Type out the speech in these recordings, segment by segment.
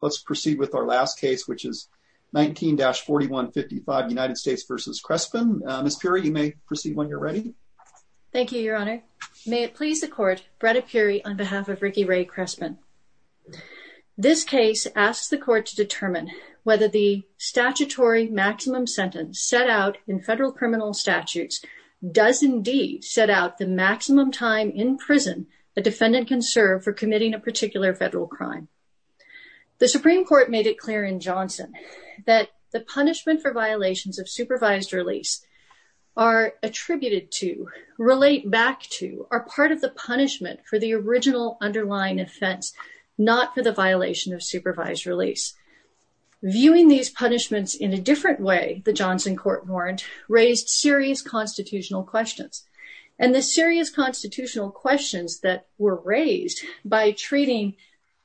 Let's proceed with our last case, which is 19-4155, United States v. Crespin. Ms. Puri, you may proceed when you're ready. Thank you, your honor. May it please the court, Bretta Puri on behalf of Ricky Ray Crespin. This case asks the court to determine whether the statutory maximum sentence set out in federal criminal statutes does indeed set out the maximum time in prison a defendant can serve for committing a particular federal crime. The Supreme Court made it clear in Johnson that the punishment for violations of supervised release are attributed to, relate back to, are part of the punishment for the original underlying offense, not for the violation of supervised release. Viewing these punishments in a different way, the Johnson court warned, raised serious constitutional questions. And the serious constitutional questions that were raised by treating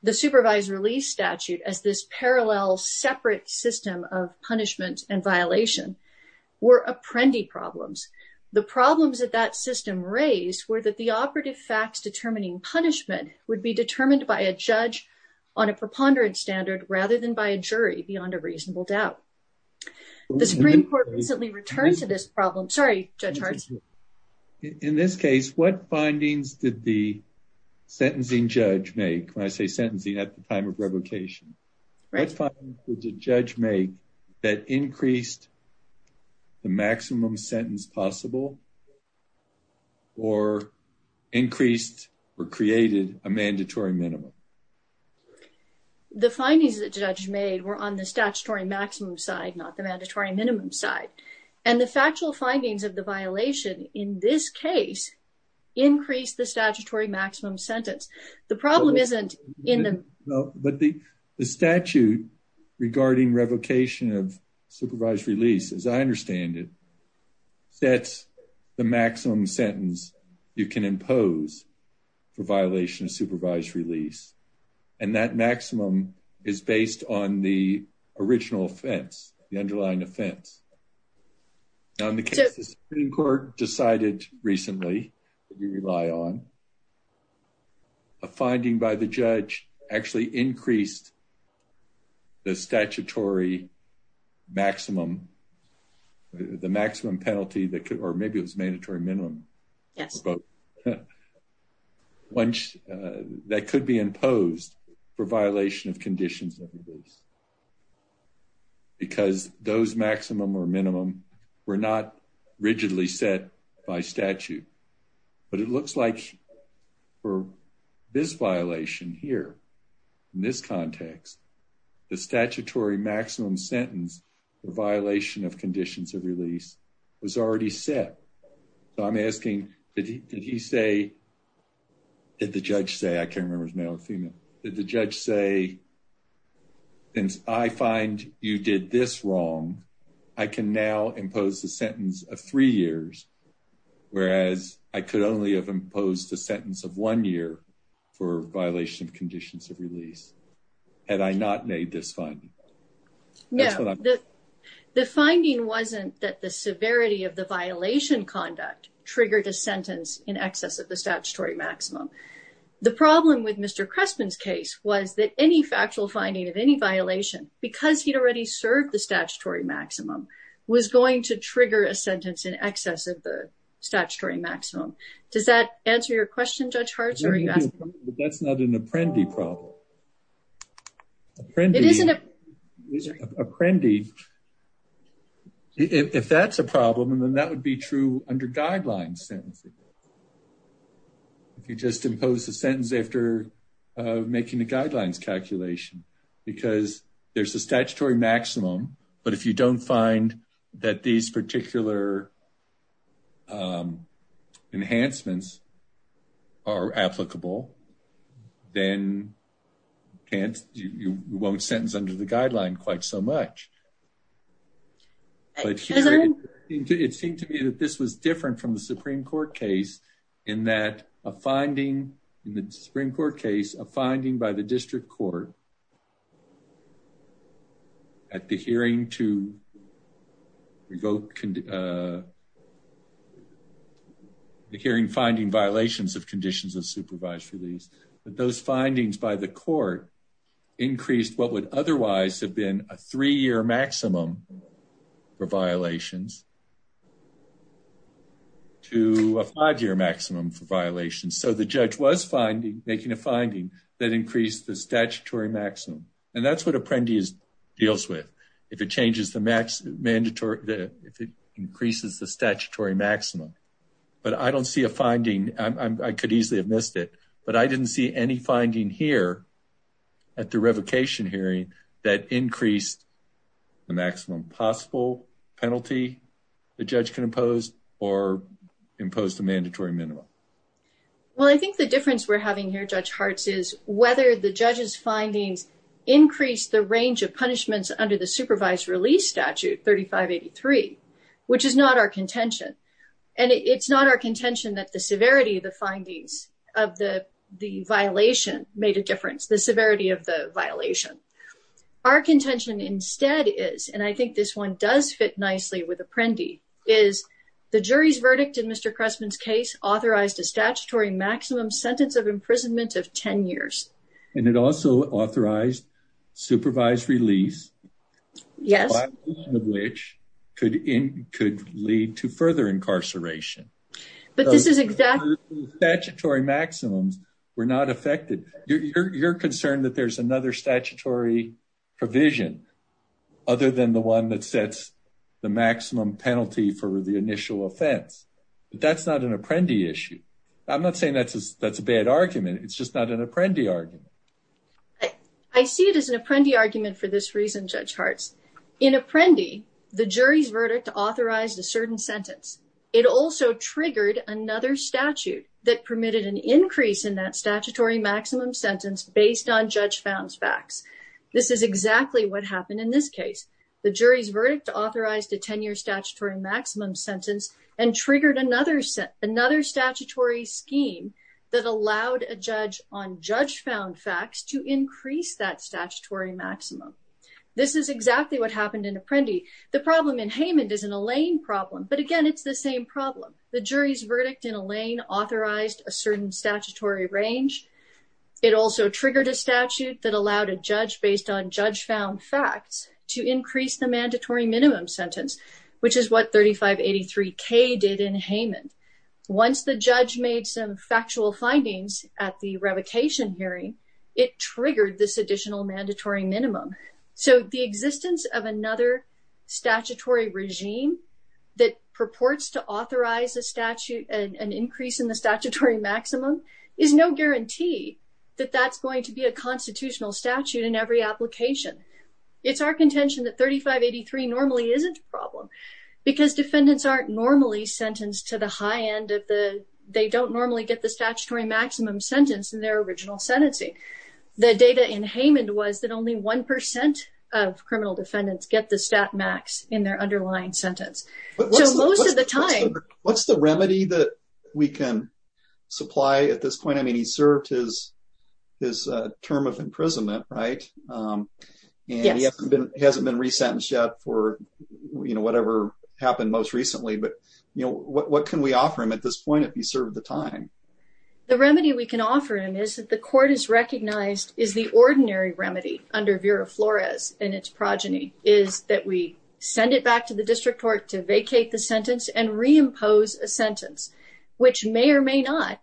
the supervised release statute as this parallel separate system of punishment and violation were apprendi problems. The problems that that system raised were that the operative facts determining punishment would be determined by a judge on a preponderance standard rather than by a jury beyond a reasonable doubt. The Supreme Court recently returned to this problem. Sorry, Judge Hart. In this case, what findings did the sentencing judge make? When I say sentencing at the time of revocation, what findings did the judge make that increased the maximum sentence possible or increased or created a mandatory minimum? The findings that the judge made were on the statutory maximum side, not the mandatory minimum side. And the factual findings of the violation in this case increased the statutory maximum sentence. The problem isn't in the... No, but the statute regarding revocation of supervised release, as I understand it, sets the maximum sentence you can impose for violation of supervised release. And that maximum is based on the original offense, the underlying offense. Now, in the case the Supreme Court decided recently, that we rely on, a finding by the judge actually increased the statutory maximum, the maximum penalty that could... Or maybe it was mandatory minimum. Yes. Once... That could be imposed for violation of conditions of release. Because those maximum or minimum were not rigidly set by statute. But it looks like for this violation here, in this context, the statutory maximum sentence, the violation of conditions of release was already set. So I'm asking, did he say... Did the judge say... I can't remember if it was male or female. Did the judge say, since I find you did this wrong, I can now impose the sentence of three years, whereas I could only have imposed the sentence of one year for violation of conditions of release. Had I not made this finding? No. The finding wasn't that the severity of the violation conduct triggered a sentence in excess of the statutory maximum. The problem with Mr. Crespin's case was that any factual finding of any violation, because he'd already served the statutory maximum, was going to trigger a sentence in excess of the statutory maximum. Does that answer your question, Judge Hartz? Or are you asking... That's not an apprendi problem. Apprendi... Apprendi... If that's a problem, then that would be true under guidelines sentences. If you just impose the sentence after making the guidelines calculation, because there's a statutory maximum, but if you don't find that these particular enhancements are applicable, then you won't sentence under the guideline quite so much. But it seemed to me that this was different from the Supreme Court case, in that a finding in the Supreme Court case, a finding by the district court at the hearing to revoke... the hearing finding violations of conditions of supervised release, that those findings by the court increased what would otherwise have a three-year maximum for violations to a five-year maximum for violations. So the judge was making a finding that increased the statutory maximum. And that's what apprendi deals with, if it increases the statutory maximum. But I don't see a finding, I could easily have missed it, but I didn't see any finding here at the revocation hearing that increased the maximum possible penalty the judge can impose or impose the mandatory minimum. Well, I think the difference we're having here, Judge Hartz, is whether the judge's findings increase the range of punishments under the supervised release statute, 3583, which is not our contention. And it's not our contention that the severity of the findings of the violation made a difference, the severity of the violation. Our contention instead is, and I think this one does fit nicely with apprendi, is the jury's verdict in Mr. Cressman's case authorized a statutory maximum sentence of imprisonment of 10 years. And it also authorized supervised release. Yes. Which could lead to further incarceration. But this is exactly- Statutory maximums were not affected. You're concerned that there's another statutory provision other than the one that sets the maximum penalty for the initial offense. But that's not an apprendi issue. I'm not saying that's a bad argument. It's just not an apprendi argument. I see it as an apprendi argument for this reason, Judge Hartz. In apprendi, the jury's verdict authorized a certain sentence. It also triggered another statute that permitted an increase in that statutory maximum sentence based on judge found facts. This is exactly what happened in this case. The jury's verdict authorized a 10-year statutory maximum sentence and triggered another statutory scheme that allowed a judge on judge found facts to increase that statutory maximum. This is exactly what happened in apprendi. The problem in Haymond is an Alain problem. But again, it's the same problem. The jury's verdict in Alain authorized a certain statutory range. It also triggered a statute that allowed a judge based on judge found facts to increase the mandatory minimum sentence, which is what 3583K did in Haymond. Once the judge made some factual findings at the revocation hearing, it triggered this additional mandatory minimum. So the existence of another statutory regime that purports to authorize an increase in the statutory maximum is no guarantee that that's going to be a constitutional statute in every application. It's our contention that 3583 normally isn't a problem because defendants aren't normally sentenced to the high end. They don't normally get the statutory maximum sentence in their original sentencing. The data in Haymond was that only one percent of criminal defendants get the stat max in their underlying sentence. So most of the time. What's the remedy that we can supply at this point? I mean, he served his term of imprisonment, right? And he hasn't been resentenced yet for whatever happened most recently. But what can we offer him at this point if he served the time? The remedy we can offer him is that the court has recognized is the ordinary remedy under Vera Flores and its progeny is that we send it back to the district court to vacate the sentence and reimpose a sentence, which may or may not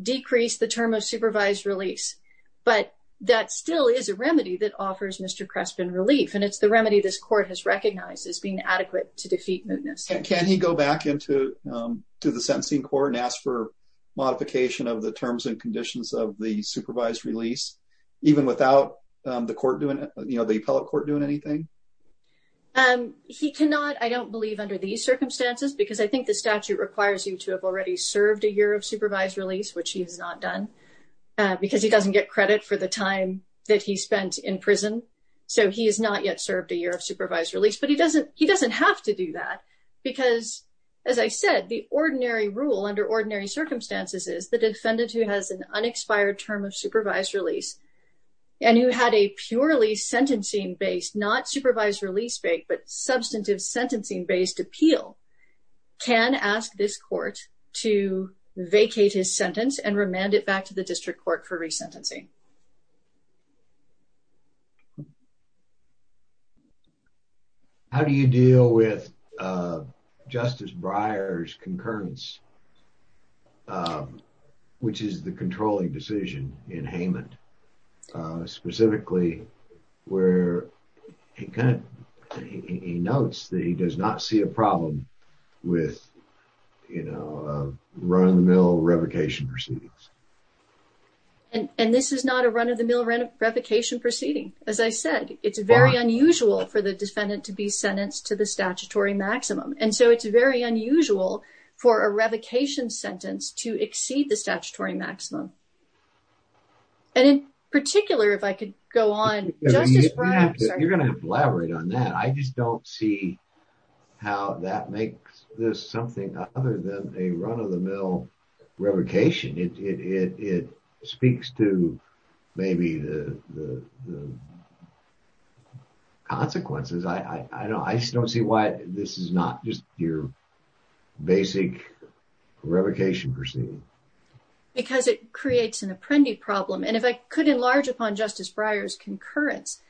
decrease the term of supervised release. But that still is a remedy that offers Mr. Crespin relief. And it's the remedy this court has recognized as being adequate to defeat mootness. Can he go back into to the sentencing court and ask for modification of the terms and conditions of the supervised release, even without the court doing the appellate court doing anything? He cannot. I don't believe under these circumstances, because I think the statute requires you to have already served a year of supervised release, which he has not done because he doesn't get credit for the time that he spent in prison. So he has not yet served a year of supervised release. But he doesn't he doesn't have to do that because, as I said, the ordinary rule under ordinary circumstances is that a defendant who has an unexpired term of supervised release and who had a purely sentencing based, not supervised release, but substantive sentencing based appeal can ask this court to vacate his sentence and remand it back to the district court for resentencing. How do you deal with Justice Breyer's concurrence, which is the controlling decision in Haman, specifically where he kind of he notes that he does not see a problem with, you know, run-of-the-mill revocation proceedings? And this is not a run-of-the-mill revocation proceeding. As I said, it's very unusual for the defendant to be sentenced to the statutory maximum, and so it's very unusual for a revocation sentence to exceed the statutory maximum. And in particular, if I could go on, Justice Breyer. You're going to have to elaborate on that. I just don't see how that makes this something other than a run-of-the-mill revocation. It speaks to maybe the consequences. I just don't see why this is not just your basic revocation proceeding. Because it creates an apprendee problem. And if I could enlarge upon Justice Breyer's concurrence,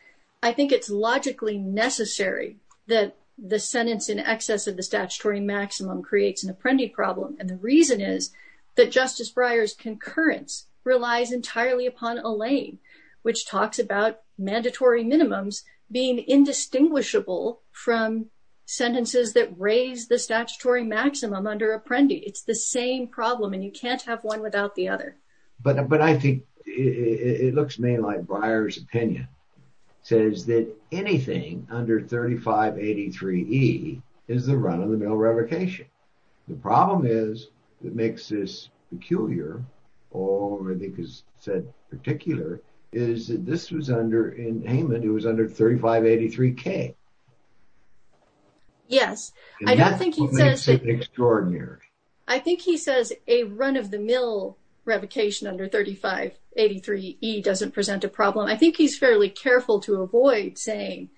I think it's logically necessary that the sentence in excess of the statutory maximum creates an apprendee problem. And the reason is that Justice Breyer's concurrence relies entirely upon Allain, which talks about mandatory minimums being indistinguishable from sentences that raise the statutory maximum under apprendee. It's the same problem, and you can't have one without the other. But I think it looks to me like Breyer's opinion says that anything under 3583e is the run-of-the-mill revocation. The problem is, that makes this peculiar, or I think is said particular, is that this was under, in Heyman, it was under 3583k. Yes. I don't think he says it's extraordinary. I think he says a run-of-the-mill revocation under 3583e doesn't present a problem. I think he's fairly careful to avoid saying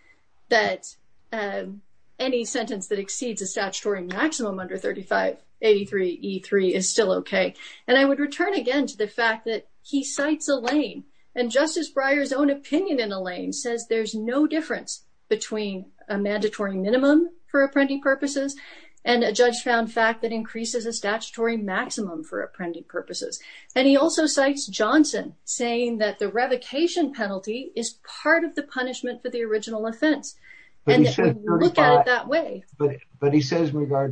that any sentence that exceeds a minimum under 3583e3 is still okay. And I would return again to the fact that he cites Allain, and Justice Breyer's own opinion in Allain says there's no difference between a mandatory minimum for apprendee purposes and a judge-found fact that increases a statutory maximum for apprendee purposes. And he also cites Johnson, saying that the revocation penalty is part of the punishment for the original offense. He says in regard to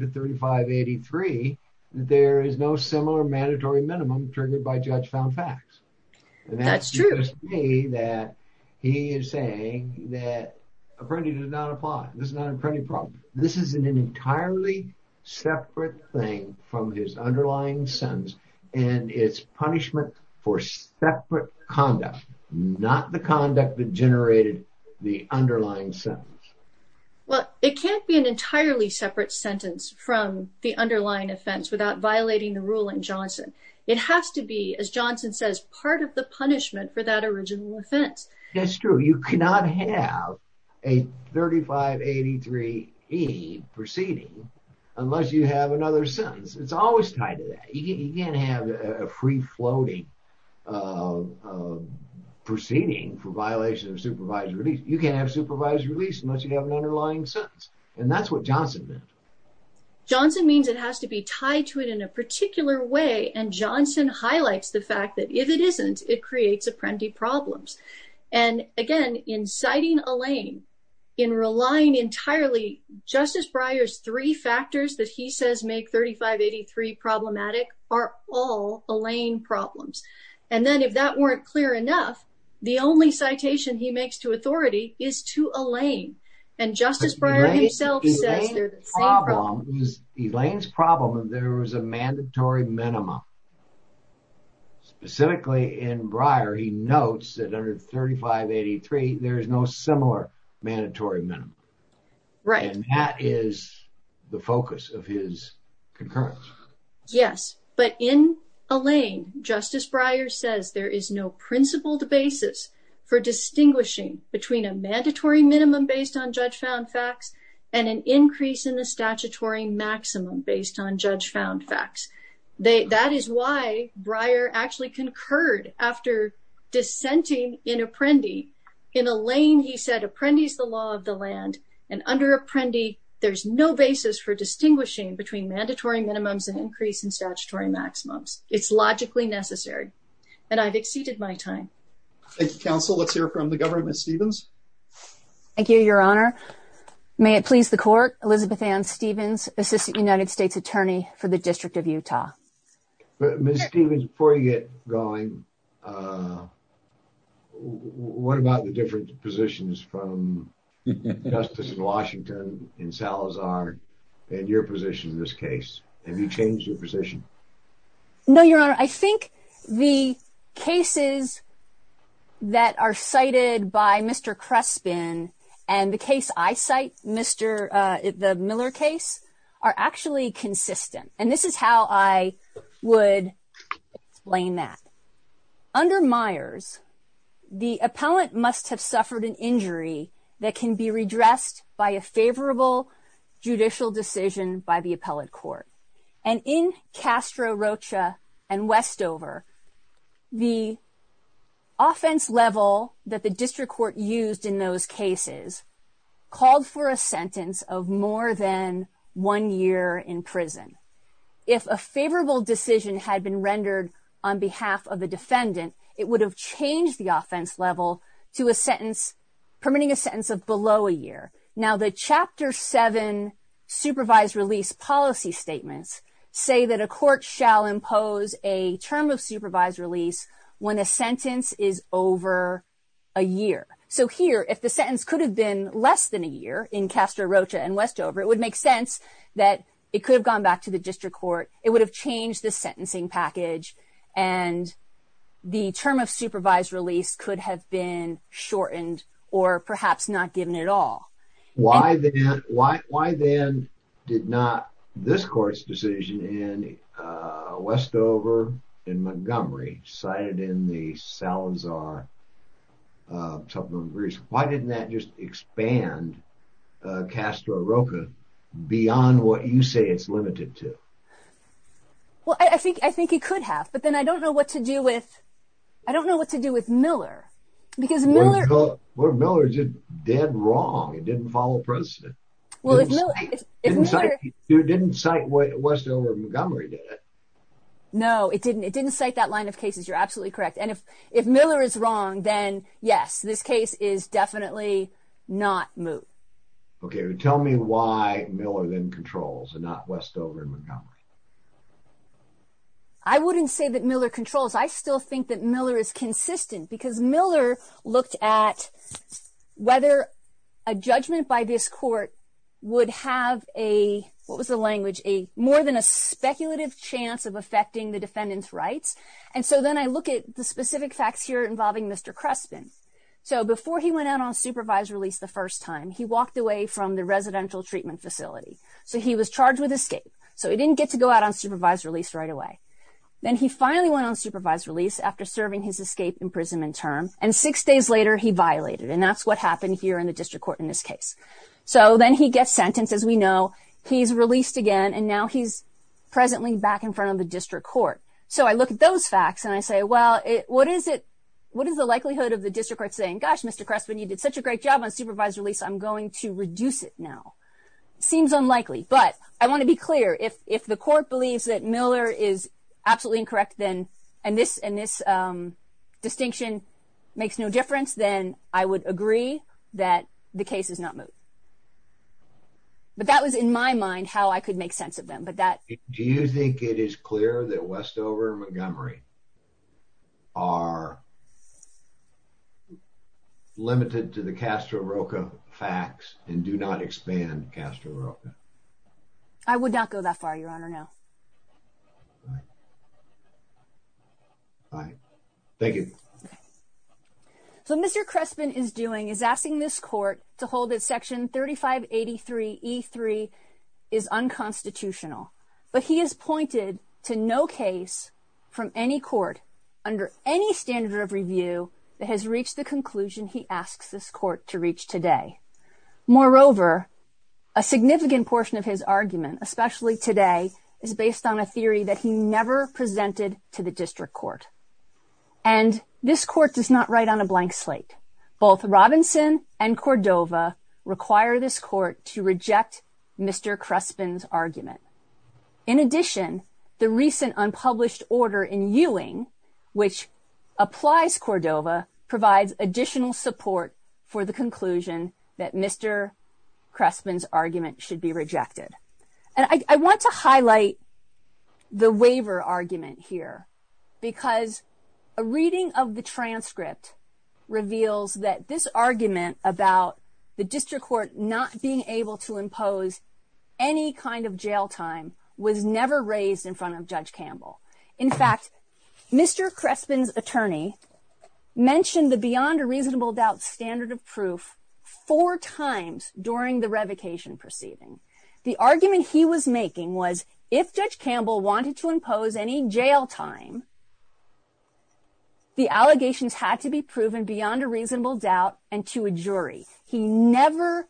3583, there is no similar mandatory minimum triggered by judge-found facts. That's true. That he is saying that apprendee does not apply. This is not an apprendee problem. This is an entirely separate thing from his underlying sentence. And it's punishment for separate conduct, not the conduct that generated the Well, it can't be an entirely separate sentence from the underlying offense without violating the rule in Johnson. It has to be, as Johnson says, part of the punishment for that original offense. That's true. You cannot have a 3583e proceeding unless you have another sentence. It's always tied to that. You can't have a free-floating proceeding for violation of supervised release. You can't have supervised release unless you have an underlying sentence. And that's what Johnson meant. Johnson means it has to be tied to it in a particular way. And Johnson highlights the fact that if it isn't, it creates apprendee problems. And again, in citing Allain, in relying entirely, Justice Breyer's three factors that he says make 3583 problematic are all Allain problems. And then if that weren't clear enough, the only citation he makes to authority is to Allain. And Justice Breyer himself says they're the same problem. Allain's problem is there was a mandatory minimum. Specifically in Breyer, he notes that under 3583, there is no similar mandatory minimum. Right. And that is the focus of his concurrence. Yes. But in Allain, Justice Breyer says there is no principled basis for distinguishing between a mandatory minimum based on judge-found facts and an increase in the statutory maximum based on judge-found facts. That is why Breyer actually concurred after dissenting in Apprendi. In Allain, he said Apprendi is the law of the land. And under Apprendi, there's no basis for distinguishing between mandatory minimums and increase in statutory maximums. It's logically necessary. And I've exceeded my time. Thank you, Counsel. Let's hear from the Governor, Ms. Stevens. Thank you, Your Honor. May it please the Court, Elizabeth Ann Stevens, Assistant United States Attorney for the District of Utah. Ms. Stevens, before you get going, what about the different positions from Justice in Washington, in Salazar, and your position in this case? Have you changed your position? No, Your Honor. I think the cases that are cited by Mr. Crespin and the case I cite, the Miller case, are actually consistent. And this is how I would explain that. Under Myers, the appellant must have suffered an injury that can be redressed by a favorable judicial decision by the appellate court. And in Castro, Rocha, and Westover, the offense level that the district court used in those cases called for a sentence of more than one year in prison. If a favorable decision had been rendered on behalf of the defendant, it would have changed the offense level to a sentence permitting a sentence of below a year. Now, the Chapter 7 supervised release policy statements say that a court shall impose a term of supervised release when a sentence is over a year. So here, if the sentence could have been less than a year in Castro, Rocha, and Westover, it would make sense that it could have gone back to the district court, it would have changed the sentencing package, and the term of supervised release could have been shortened or perhaps not given at all. Why then did not this court's decision in Westover and Montgomery, cited in the Salazar Supplementary Release, why didn't that just expand Castro, Rocha, beyond what you say it's limited to? Well, I think it could have, but then I don't know what to do with Miller. Well, Miller did wrong. It didn't follow precedent. It didn't cite Westover and Montgomery, did it? No, it didn't. It didn't cite that line of cases. You're absolutely correct. If Miller is wrong, then yes, this case is definitely not moot. Okay. Tell me why Miller then controls and not Westover and Montgomery. I wouldn't say that Miller controls. I still think that Miller is consistent because Miller looked at whether a judgment by this court would have a, what was the language, more than a speculative chance of affecting the defendant's rights. And so then I look at the specific facts here involving Mr. Crespin. So before he went out on supervised release the first time, he walked away from the residential treatment facility. So he was charged with escape. So he didn't get to go out on supervised release right away. Then he finally went on supervised release after serving his escape imprisonment term. And six days later, he violated. And that's what happened here in the district court in this case. So then he gets sentenced, as we know. He's released again. And now he's presently back in front of the district court. So I look at those facts and I say, well, what is it, what is the likelihood of the district court saying, gosh, Mr. Crespin, you did such a great job on supervised release. I'm going to reduce it now. Seems unlikely. But I want to be clear. If the court believes that Miller is absolutely incorrect then, and this distinction makes no difference, then I would agree that the case is not moved. But that was in my mind how I could make sense of them. Do you think it is clear that Westover and Montgomery are limited to the Castro-Roca facts and do not expand Castro-Roca? I would not go that far, Your Honor, no. All right. Thank you. So what Mr. Crespin is doing is asking this court to hold that Section 3583E3 is unconstitutional. But he has pointed to no case from any court under any standard of review that has reached the conclusion he asks this court to reach today. Moreover, a significant portion of his argument, especially today, is based on a theory that he never presented to the district court. And this court does not write on a blank slate. Both Robinson and Cordova require this court to reject Mr. Crespin's argument. In addition, the recent unpublished order in Ewing, which applies Cordova, provides additional support for the conclusion that Mr. Crespin's argument should be rejected. And I want to highlight the waiver argument here, because a reading of the transcript reveals that this argument about the district court not being able to impose any kind of jail time was never raised in front of Judge Campbell. In fact, Mr. Crespin's attorney mentioned the beyond a reasonable doubt standard of proof four times during the revocation proceeding. The argument he was making was if Judge Campbell wanted to impose any jail time, the allegations had to be proven beyond a reasonable doubt and to a jury. He never,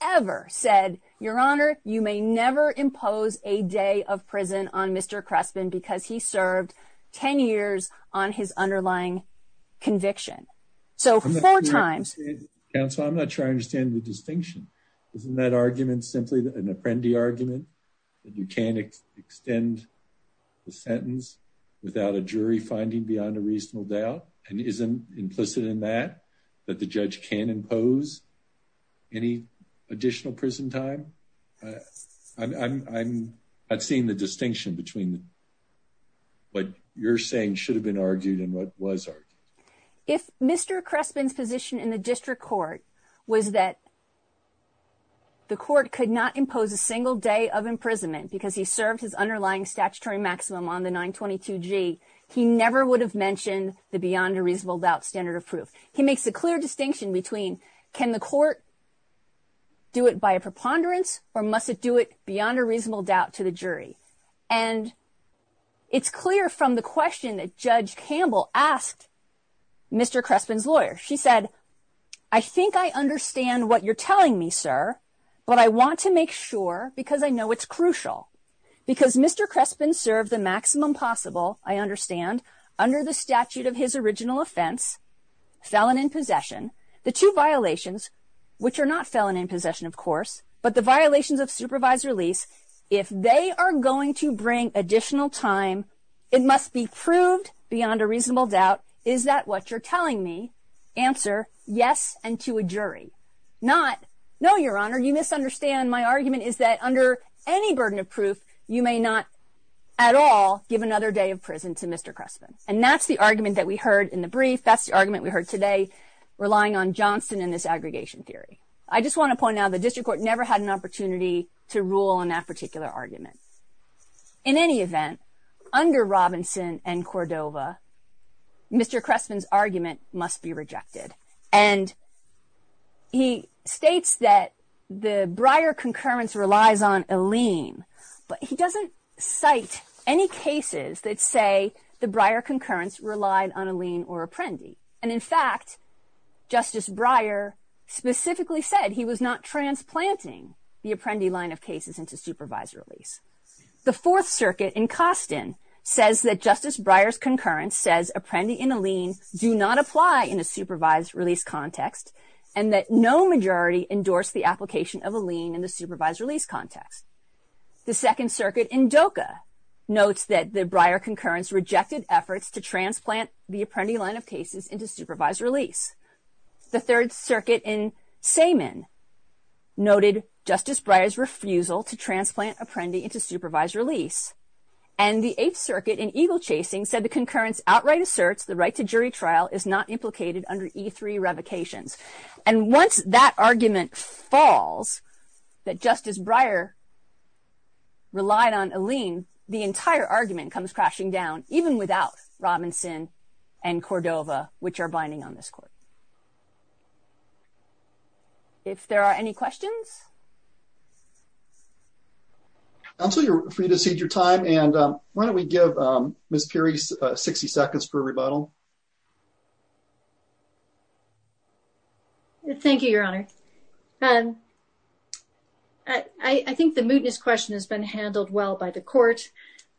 ever said, Your Honor, you may never impose a day of prison on Mr. Crespin because he served 10 years on his underlying conviction. So four times. Counsel, I'm not sure I understand the distinction. Isn't that argument simply an apprendee argument that you can't extend the sentence without a jury finding beyond a reasonable doubt? And isn't implicit in that that the judge can impose any additional prison time? I'm not seeing the distinction between what you're saying should have been argued and what was argued. If Mr. Crespin's position in the district court was that. The court could not impose a single day of imprisonment because he served his underlying statutory maximum on the 922 G. He never would have mentioned the beyond a reasonable doubt standard of proof. He makes a clear distinction between can the court. Do it by a preponderance or must it do it beyond a reasonable doubt to the jury and. It's clear from the question that Judge Campbell asked. Mr. Crespin's lawyer, she said. I think I understand what you're telling me, sir, but I want to make sure because I know it's crucial because Mr. Crespin served the maximum possible. I understand under the statute of his original offense. Felon in possession. The two violations which are not felon in possession, of course, but the violations of supervised release. If they are going to bring additional time, it must be proved beyond a reasonable doubt. Is that what you're telling me answer? Yes. And to a jury not know your honor. You misunderstand. My argument is that under any burden of proof, you may not at all give another day of prison to Mr. Crespin. And that's the argument that we heard in the brief. That's the argument we heard today relying on Johnston in this aggregation theory. I just want to point out the district court never had an opportunity to rule on that particular argument. In any event, under Robinson and Cordova, Mr. Crespin's argument must be rejected. And he states that the Breyer concurrence relies on a lien, but he doesn't cite any cases that say the Breyer concurrence relied on a lien or apprendi. And in fact, Justice Breyer specifically said he was not transplanting the apprendi line of cases into supervised release. The Fourth Circuit in Costin says that Justice Breyer's concurrence says apprendi in a lien do not apply in a supervised release context, and that no majority endorsed the application of a lien in the supervised release context. The Second Circuit in Doca notes that the Breyer concurrence rejected efforts to transplant the apprendi line of cases into supervised release. The Third Circuit in Samen noted Justice Breyer's refusal to transplant apprendi into supervised release. And the Eighth Circuit in Eagle Chasing said the concurrence outright asserts the right to jury trial is not implicated under E3 revocations. And once that argument falls, that Justice Breyer relied on a lien, the entire argument comes crashing down, even without Robinson and Cordova, which are binding on this court. If there are any questions? Counselor, you're free to cede your time. And why don't we give Ms. Pirie 60 seconds for a rebuttal. Thank you, Your Honor. I think the mootness question has been handled well by the court.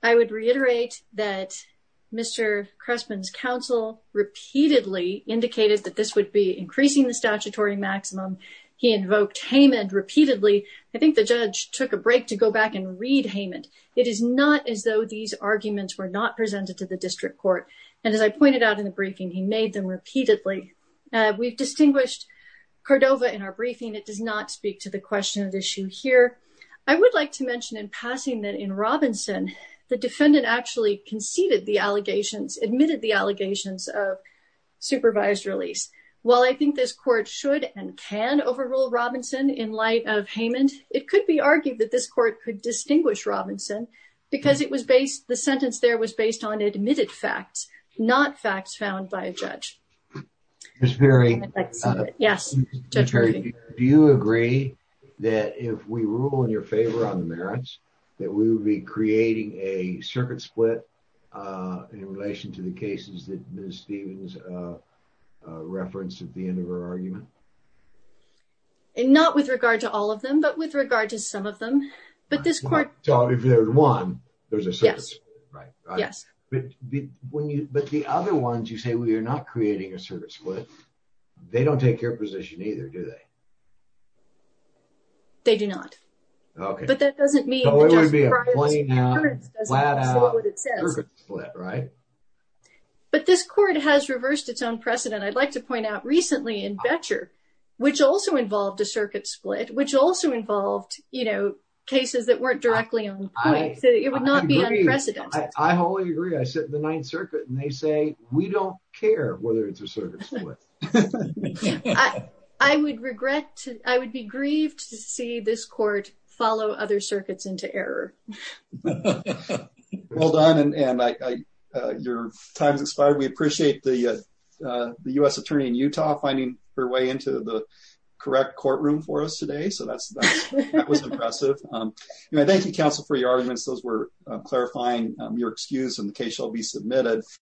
I would reiterate that Mr. Cressman's counsel repeatedly indicated that this would be increasing the statutory maximum. He invoked Haman repeatedly. I think the judge took a break to go back and read Haman. It is not as though these arguments were not presented to the district court. And as I pointed out in the briefing, he made them repeatedly. We've distinguished Cordova in our briefing. It does not speak to the question of the issue here. I would like to mention in passing that in Robinson, the defendant actually conceded the allegations, admitted the allegations of supervised release. While I think this court should and can overrule Robinson in light of Haman, it could be argued that this court could distinguish Robinson because it was based, the sentence there was based on admitted facts, not facts found by a judge. Ms. Perry, do you agree that if we rule in your favor on the merits, that we would be creating a circuit split in relation to the cases that Ms. Stephens referenced at the end of her argument? Not with regard to all of them, but with regard to some of them. But this court- So if there's one, there's a circuit split, right? Yes. But the other ones you say, well, you're not creating a circuit split. They don't take your position either, do they? They do not. But that doesn't mean- So it would be a flat out circuit split, right? But this court has reversed its own precedent. I'd like to point out recently in Boettcher, which also involved a circuit split, which also involved, you know, cases that weren't directly on point. So it would not be unprecedented. I wholly agree. I sit in the Ninth Circuit and they say, we don't care whether it's a circuit split. I would regret to- I would be grieved to see this court follow other circuits into error. Well done. And your time's expired. We appreciate the U.S. attorney in Utah finding her way into the correct courtroom for us today. So that was impressive. Thank you, counsel, for your arguments. Those were clarifying your excuse and the case shall be submitted.